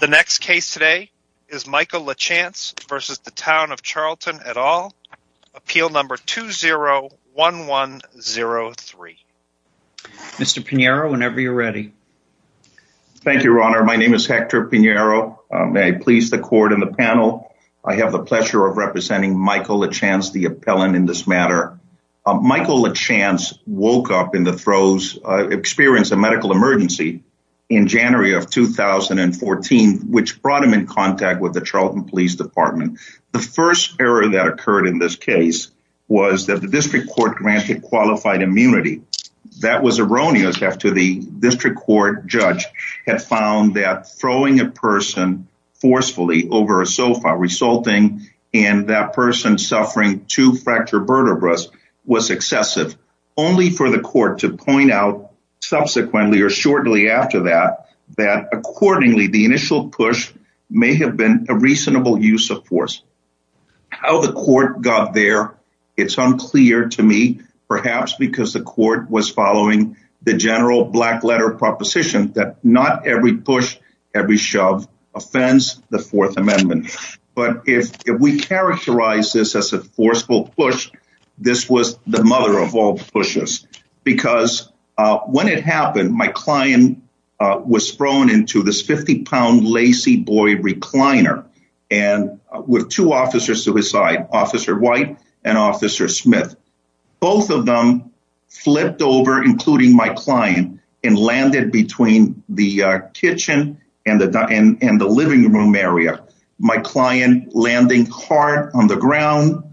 The next case today is Michael LaChance v. Town of Charlton et al. Appeal number 201103. Mr. Pinheiro, whenever you're ready. Thank you, Your Honor. My name is Hector Pinheiro. May I please the Court and the panel? I have the pleasure of representing Michael LaChance, the appellant in this matter. Michael LaChance woke up in the throes, experienced a medical emergency in January of 2014, which brought him in contact with the Charlton Police Department. The first error that occurred in this case was that the district court granted qualified immunity. That was erroneous after the district court judge had found that throwing a person forcefully over a sofa, resulting in that person suffering two fracture vertebras was excessive. Only for the court to point out subsequently or shortly after that, that accordingly, the initial push may have been a reasonable use of force. How the court got there, it's unclear to me, perhaps because the court was following the general black letter proposition that not every push, every shove offends the Fourth Amendment. But if we characterize this as a forceful push, this was the mother of all pushes. Because when it happened, my client was thrown into this 50 pound lacy boy recliner and with two officers to his side, Officer White and Officer Smith. Both of them flipped over, including my client, and landed between the kitchen and the living room area. My client landing hard on the ground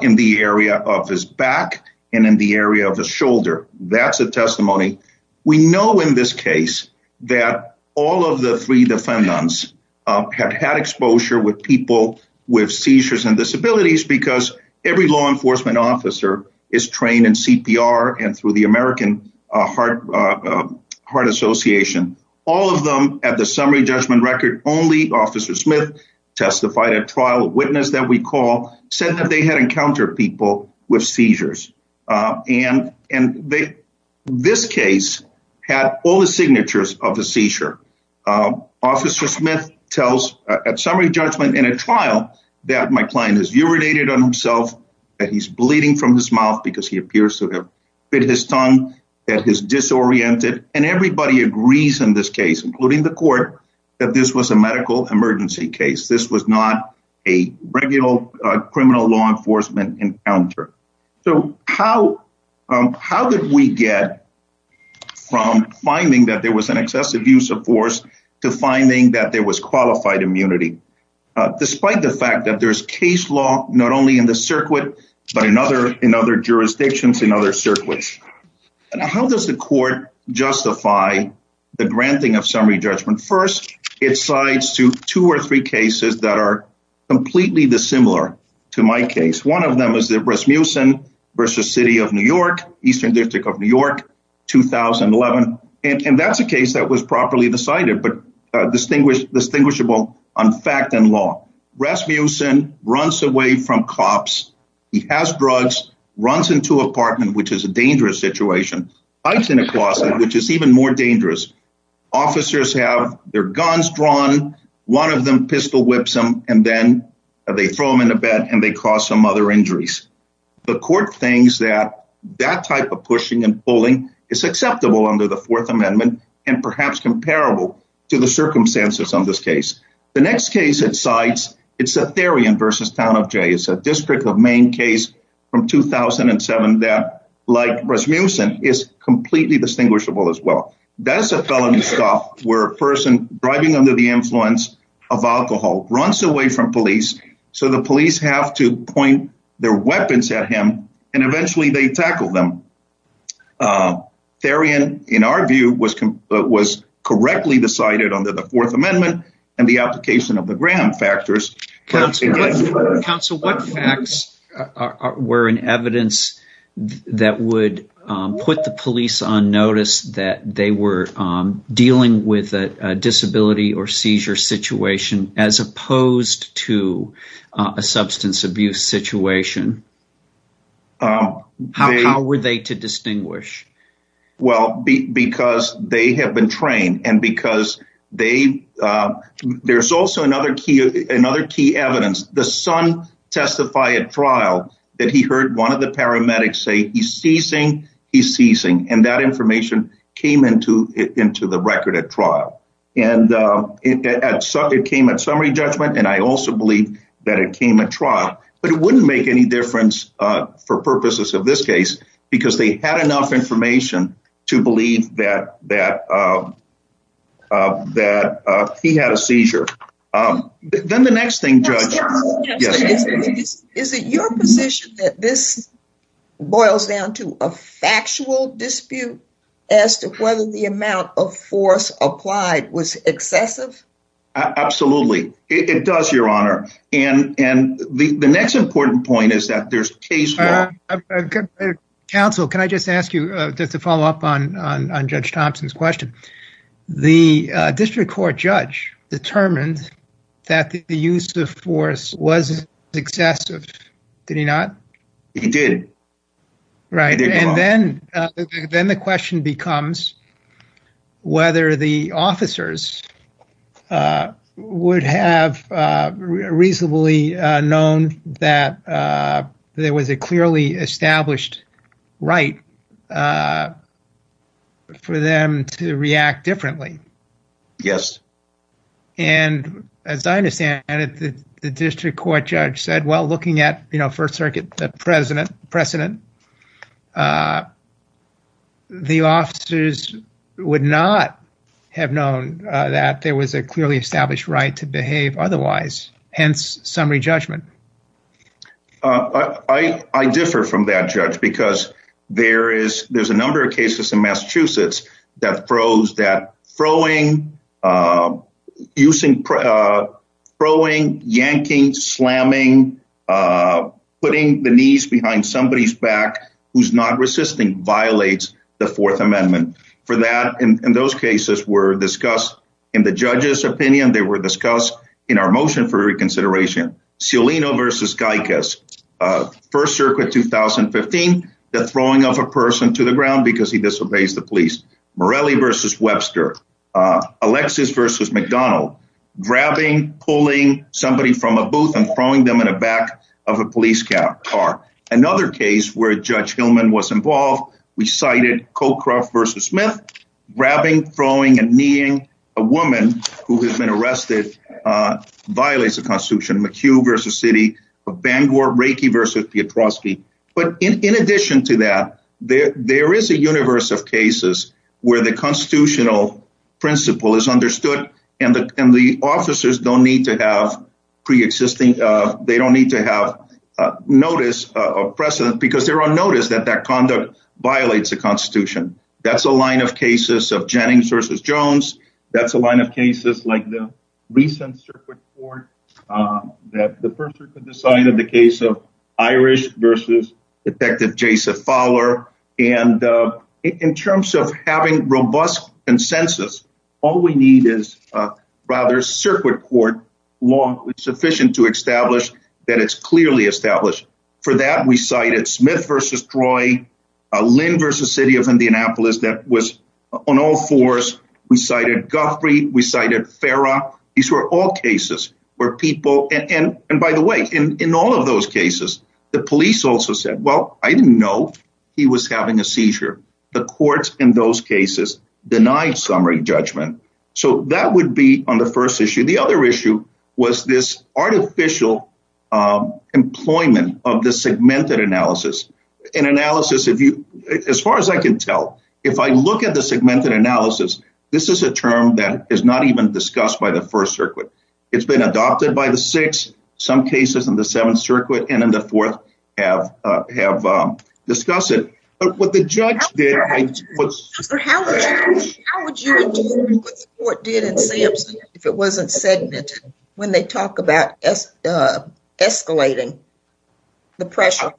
in the area of his back and in the area of the shoulder. That's a testimony. We know in this case that all of the three defendants have had exposure with people with seizures and disabilities because every law enforcement officer is trained in CPR and through the American Heart Association. All of them at the summary judgment record. Only Officer Smith testified at trial. A witness that we call said that they had encountered people with seizures. And and this case had all the signatures of the seizure. Officer Smith tells at summary judgment in a trial that my client has urinated on himself, that he's bleeding from his mouth because he appears to have bit his tongue at his disoriented. And everybody agrees in this case, including the court, that this was a medical emergency case. This was not a regular criminal law enforcement encounter. So how how did we get from finding that there was an excessive use of force to finding that there was qualified immunity, despite the fact that there is case law not only in the circuit, but in other in other jurisdictions, in other circuits? And how does the court justify the granting of summary judgment? First, it slides to two or three cases that are completely dissimilar to my case. One of them is the Rasmussen versus City of New York, Eastern District of New York, 2011. And that's a case that was properly decided, but distinguished, distinguishable on fact and law. Rasmussen runs away from cops. He has drugs, runs into apartment, which is a dangerous situation. Hides in a closet, which is even more dangerous. Officers have their guns drawn. One of them pistol whips him and then they throw him in a bed and they cause some other injuries. The court thinks that that type of pushing and pulling is acceptable under the Fourth Amendment and perhaps comparable to the circumstances on this case. The next case it cites, it's a theory and versus town of Jay is a district of Maine case from 2007 that, like Rasmussen, is completely distinguishable as well. That's a felony stop where a person driving under the influence of alcohol runs away from police. So the police have to point their weapons at him. And eventually they tackle them. Therian, in our view, was was correctly decided under the Fourth Amendment and the application of the Graham factors. Counsel, what facts were in evidence that would put the police on notice that they were dealing with a disability or seizure situation as opposed to a substance abuse situation? How were they to distinguish? Well, because they have been trained and because they there's also another key, another key evidence. The son testify at trial that he heard one of the paramedics say he's ceasing. He's ceasing. And that information came into into the record at trial. And it came at summary judgment. And I also believe that it came at trial, but it wouldn't make any difference for purposes of this case because they had enough information to believe that that that he had a seizure. Then the next thing. Is it your position that this boils down to a factual dispute as to whether the amount of force applied was excessive? Absolutely. It does, Your Honor. And the next important point is that there's a case. Counsel, can I just ask you to follow up on on Judge Thompson's question? The district court judge determined that the use of force was excessive. Did he not? He did. Right. Then the question becomes whether the officers would have reasonably known that there was a clearly established right for them to react differently. Yes. And as I understand it, the district court judge said, well, looking at, you know, First Circuit president precedent. The officers would not have known that there was a clearly established right to behave otherwise. Hence summary judgment. I differ from that judge because there is there's a number of cases in Massachusetts that froze that throwing using throwing, yanking, slamming, putting the knees behind somebody's back who's not resisting violates the Fourth Amendment for that. And those cases were discussed in the judge's opinion. They were discussed in our motion for reconsideration. Celino versus Geico's First Circuit, 2015, the throwing of a person to the ground because he disobeys the police. Morelli versus Webster, Alexis versus McDonald, grabbing, pulling somebody from a booth and throwing them in the back of a police car. Another case where Judge Hillman was involved, we cited Coke versus Smith, grabbing, throwing and kneeing a woman who has been arrested violates the Constitution. McHugh versus city of Bangor, Reiki versus Petroski. But in addition to that, there is a universe of cases where the constitutional principle is understood and the officers don't need to have pre-existing. They don't need to have notice of precedent because they're on notice that that conduct violates the Constitution. That's a line of cases of Jennings versus Jones. That's a line of cases like the recent circuit court that the person could decide of the case of Irish versus Detective Jason Fowler. And in terms of having robust consensus, all we need is a rather circuit court long sufficient to establish that it's clearly established. For that, we cited Smith versus Troy, Lynn versus city of Indianapolis. That was on all fours. We cited Guthrie. We cited Farah. These were all cases where people. And by the way, in all of those cases, the police also said, well, I didn't know he was having a seizure. The courts in those cases denied summary judgment. So that would be on the first issue. The other issue was this artificial employment of the segmented analysis and analysis. If you as far as I can tell, if I look at the segmented analysis, this is a term that is not even discussed by the first circuit. It's been adopted by the six. Some cases in the Seventh Circuit and in the fourth have have discussed it. But what the judge did. What did it say if it wasn't segmented when they talk about escalating the pressure?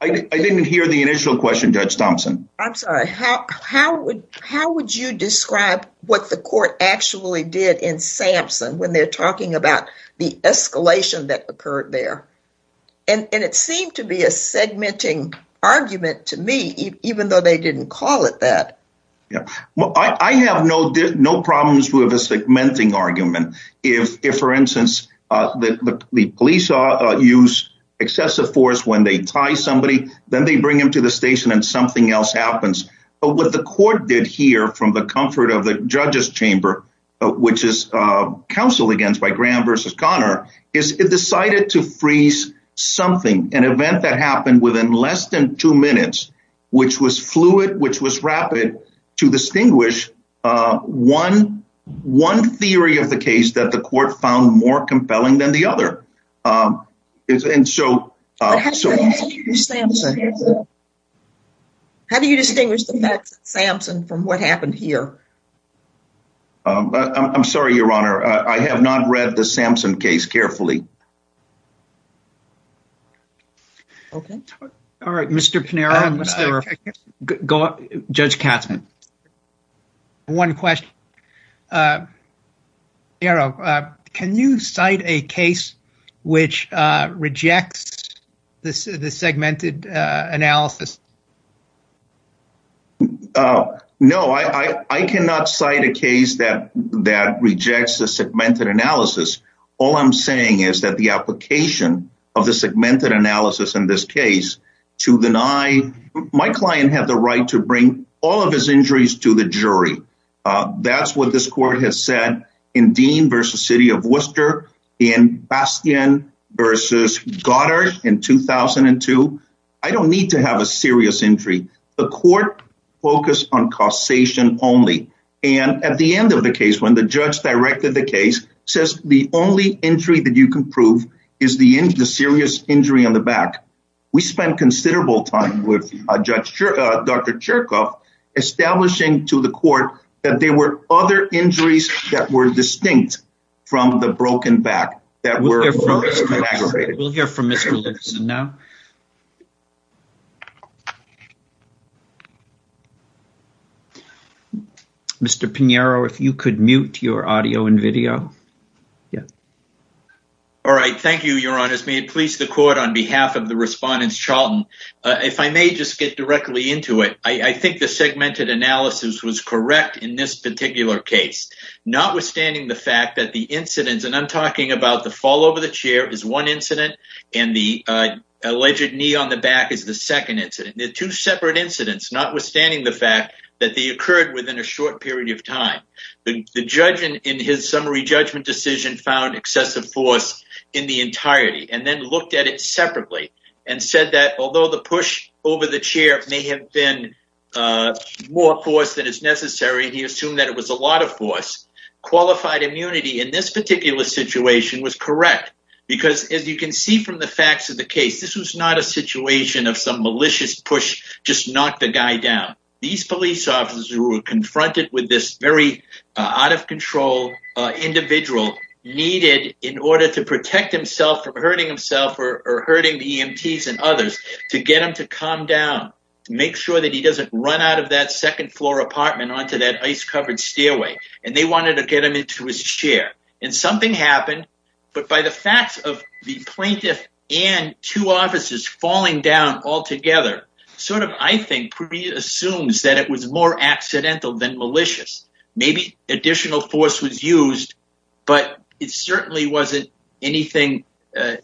I didn't hear the initial question, Judge Thompson. I'm sorry. How would how would you describe what the court actually did in Sampson when they're talking about the escalation that occurred there? And it seemed to be a segmenting argument to me, even though they didn't call it that. I have no no problems with a segmenting argument. If, for instance, the police use excessive force when they tie somebody, then they bring him to the station and something else happens. But what the court did here from the comfort of the judges chamber, which is counseled against by Graham versus Connor, is it decided to freeze something, an event that happened within less than two minutes, which was fluid, which was rapid to distinguish one one theory of the case that the court found more compelling than the other. And so how do you distinguish Sampson from what happened here? I'm sorry, Your Honor. I have not read the Sampson case carefully. OK. All right. Mr. Panera. Go up, Judge Katzmann. One question. Can you cite a case which rejects this segmented analysis? No, I cannot cite a case that that rejects the segmented analysis. All I'm saying is that the application of the segmented analysis in this case to deny my client had the right to bring all of his injuries to the jury. That's what this court has said in Dean versus city of Worcester in Bastion versus Goddard in 2002. I don't need to have a serious injury. The court focused on causation only. And at the end of the case, when the judge directed the case, says the only injury that you can prove is the serious injury on the back. We spent considerable time with a judge, Dr. Chirkoff, establishing to the court that there were other injuries that were distinct from the broken back. We'll hear from Mr. Lipson now. Mr. Pinheiro, if you could mute your audio and video. All right. Thank you, Your Honor. May it please the court on behalf of the respondents, Charlton, if I may just get directly into it. I think the segmented analysis was correct in this particular case, notwithstanding the fact that the incidents. And I'm talking about the fall over the chair is one incident. And the alleged knee on the back is the second incident. Two separate incidents, notwithstanding the fact that they occurred within a short period of time. The judge in his summary judgment decision found excessive force in the entirety and then looked at it separately and said that although the push over the chair may have been more force than is necessary. He assumed that it was a lot of force. Qualified immunity in this particular situation was correct, because as you can see from the facts of the case, this was not a situation of some malicious push. Just knock the guy down. These police officers were confronted with this very out of control individual needed in order to protect himself from hurting himself or hurting the EMTs and others to get him to calm down. Make sure that he doesn't run out of that second floor apartment onto that ice covered stairway and they wanted to get him into his chair and something happened. But by the facts of the plaintiff and two officers falling down altogether, sort of, I think assumes that it was more accidental than malicious. Maybe additional force was used, but it certainly wasn't anything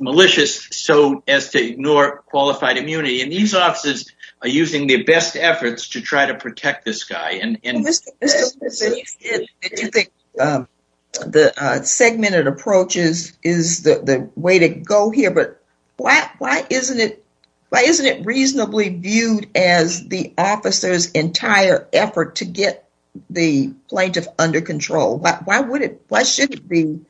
malicious. So as to ignore qualified immunity in these offices are using their best efforts to try to protect this guy. The segmented approaches is the way to go here, but why isn't it? Why isn't it reasonably viewed as the officer's entire effort to get the plaintiff under control? Why would it? Why should it be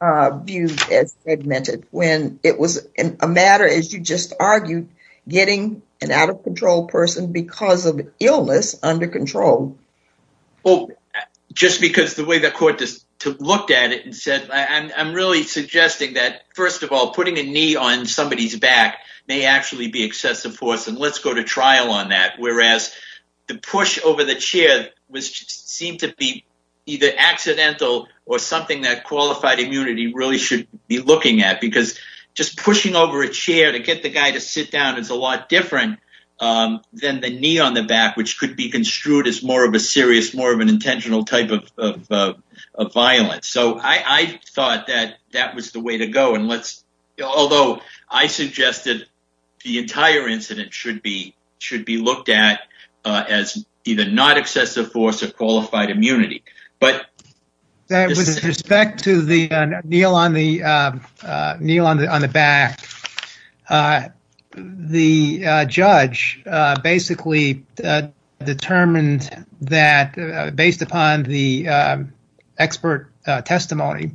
viewed as segmented when it was a matter, as you just argued, getting an out of control person because of illness under control? Well, just because the way the court just looked at it and said, I'm really suggesting that, first of all, putting a knee on somebody's back may actually be excessive force. And let's go to trial on that. Whereas the push over the chair was seemed to be either accidental or something that qualified immunity really should be looking at, because just pushing over a chair to get the guy to sit down is a lot different than the knee on the back. Which could be construed as more of a serious, more of an intentional type of violence. So I thought that that was the way to go. And let's although I suggested the entire incident should be should be looked at as either not excessive force or qualified immunity. With respect to the kneel on the back, the judge basically determined that based upon the expert testimony,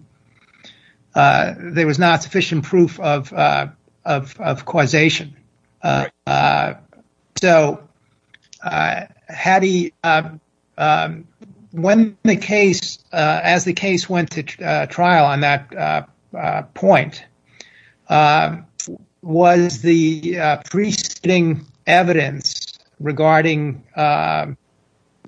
there was not sufficient proof of causation. So, Hattie, when the case as the case went to trial on that point, was the preceding evidence regarding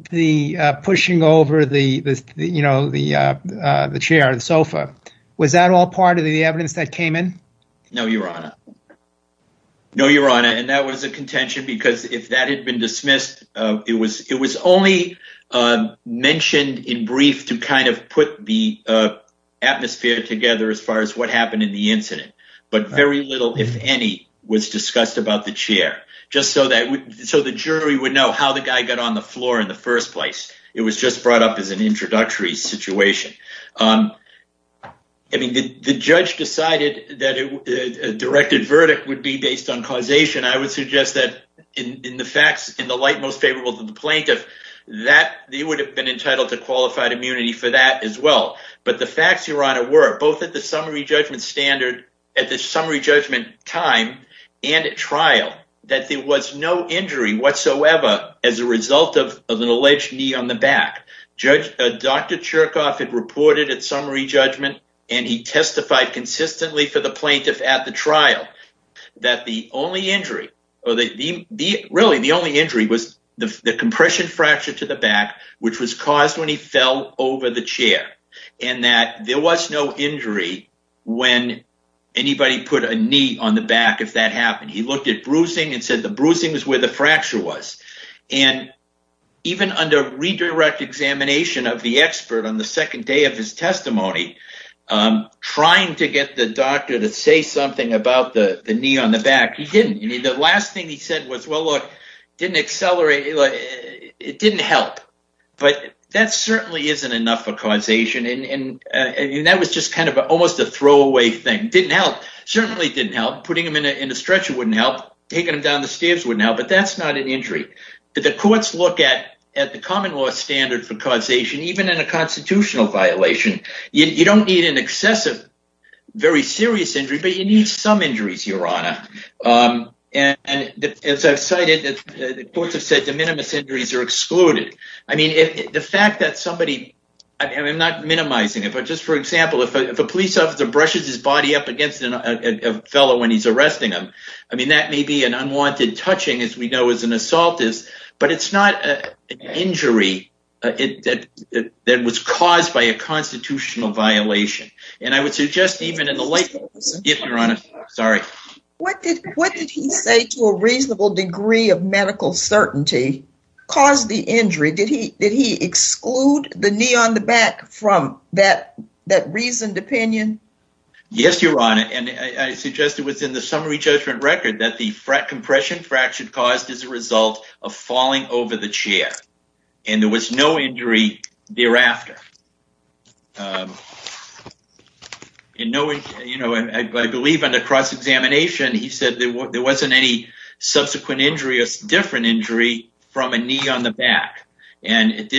the pushing over the, you know, the chair and sofa. Was that all part of the evidence that came in? No, Your Honor. No, Your Honor. And that was a contention, because if that had been dismissed, it was it was only mentioned in brief to kind of put the atmosphere together as far as what happened in the incident. But very little, if any, was discussed about the chair just so that so the jury would know how the guy got on the floor in the first place. It was just brought up as an introductory situation. I mean, the judge decided that a directed verdict would be based on causation. I would suggest that in the facts in the light most favorable to the plaintiff that they would have been entitled to qualified immunity for that as well. But the facts, Your Honor, were both at the summary judgment standard at the summary judgment time and at trial that there was no injury whatsoever as a result of an alleged knee on the back. Judge Dr. Chirkoff had reported at summary judgment and he testified consistently for the plaintiff at the trial that the only injury or the really the only injury was the compression fracture to the back, which was caused when he fell over the chair and that there was no injury when anybody put a knee on the back. If that happened, he looked at bruising and said the bruising is where the fracture was. And even under redirect examination of the expert on the second day of his testimony, trying to get the doctor to say something about the knee on the back, he didn't. The last thing he said was, well, look, it didn't help. But that certainly isn't enough for causation. And that was just kind of almost a throwaway thing. Didn't help. Certainly didn't help. Putting him in a stretcher wouldn't help. Taking him down the stairs wouldn't help. But that's not an injury. The courts look at the common law standard for causation, even in a constitutional violation. You don't need an excessive, very serious injury, but you need some injuries, Your Honor. And as I've cited, the courts have said the minimus injuries are excluded. I mean, the fact that somebody, I'm not minimizing it, but just for example, if a police officer brushes his body up against a fellow when he's arresting him, I mean, that may be an unwanted touching, as we know, as an assault is. But it's not an injury that was caused by a constitutional violation. And I would suggest even in the light. Yes, Your Honor. Sorry. What did he say to a reasonable degree of medical certainty caused the injury? Did he exclude the knee on the back from that reasoned opinion? Yes, Your Honor. And I suggest it was in the summary judgment record that the compression fracture caused as a result of falling over the chair. And there was no injury thereafter. You know, I believe in the cross-examination, he said there wasn't any subsequent injury, a different injury from a knee on the back. And it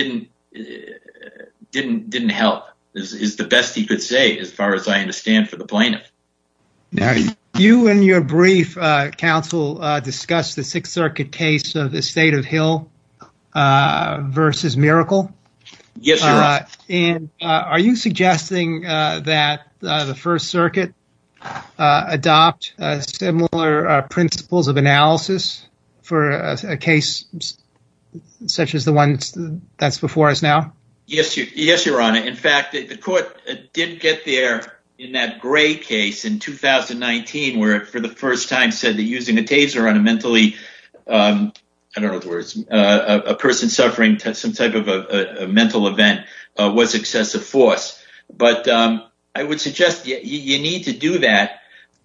didn't help is the best he could say, as far as I understand, for the plaintiff. You and your brief counsel discussed the Sixth Circuit case of the State of Hill versus Miracle. Yes. And are you suggesting that the First Circuit adopt similar principles of analysis for a case such as the one that's before us now? Yes. Yes, Your Honor. In fact, the court didn't get there in that gray case in 2019, where for the first time said that using a taser on a mentally, I don't know the words, a person suffering some type of a mental event was excessive force. But I would suggest you need to do that.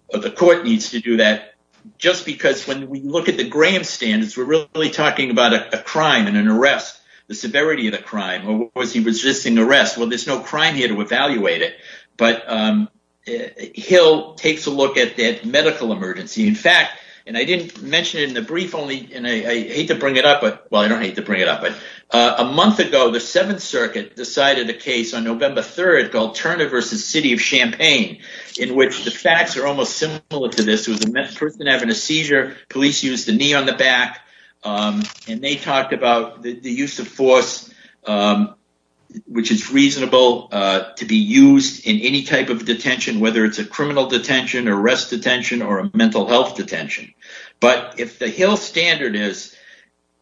The court needs to do that just because when we look at the Graham standards, we're really talking about a crime and an arrest, the severity of the crime. Was he resisting arrest? Well, there's no crime here to evaluate it. But Hill takes a look at that medical emergency, in fact. And I didn't mention it in the brief only. And I hate to bring it up. Well, I don't hate to bring it up. But a month ago, the Seventh Circuit decided a case on November 3rd called Turner versus City of Champaign, in which the facts are almost similar to this. It was a person having a seizure. Police used the knee on the back. And they talked about the use of force, which is reasonable to be used in any type of detention, whether it's a criminal detention or arrest detention or a mental health detention. But if the Hill standard is,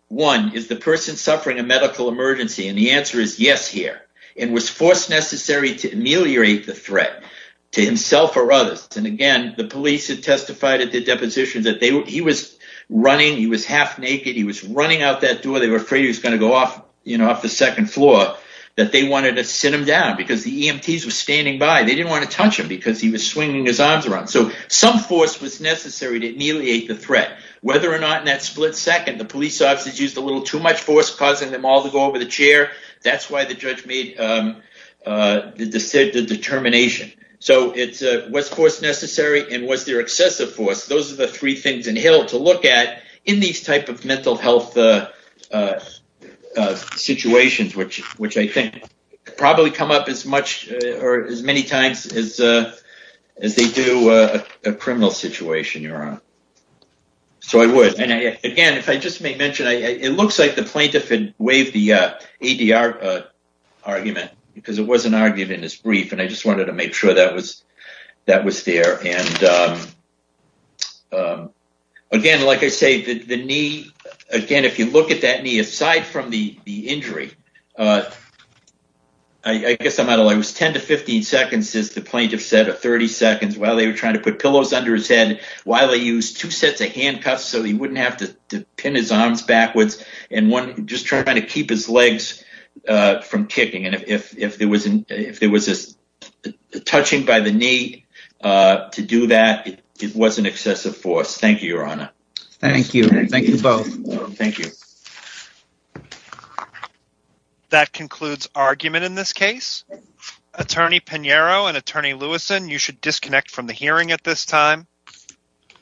one, is the person suffering a medical emergency? And the answer is yes here. And was force necessary to ameliorate the threat to himself or others? And again, the police had testified at the deposition that he was running. He was half naked. He was running out that door. They were afraid he was going to go off, you know, off the second floor, that they wanted to sit him down because the EMTs were standing by. They didn't want to touch him because he was swinging his arms around. So some force was necessary to ameliorate the threat, whether or not in that split second the police officers used a little too much force, causing them all to go over the chair. That's why the judge made the determination. So it's what's force necessary and what's their excessive force. Those are the three things in Hill to look at in these type of mental health situations, which I think probably come up as much or as many times as they do a criminal situation. You're on. So I would. And again, if I just may mention, it looks like the plaintiff had waived the ADR argument because it wasn't argued in this brief. And I just wanted to make sure that was that was there. And again, like I say, the knee again, if you look at that knee aside from the injury. I guess I'm out of I was 10 to 15 seconds is the plaintiff said a 30 seconds while they were trying to put pillows under his head while they use two sets of handcuffs so he wouldn't have to pin his arms backwards. And one just trying to keep his legs from kicking. And if if there was if there was this touching by the knee to do that, it was an excessive force. Thank you, Your Honor. Thank you. Thank you both. Thank you. That concludes argument in this case. Attorney Pinheiro and Attorney Lewis and you should disconnect from the hearing at this time.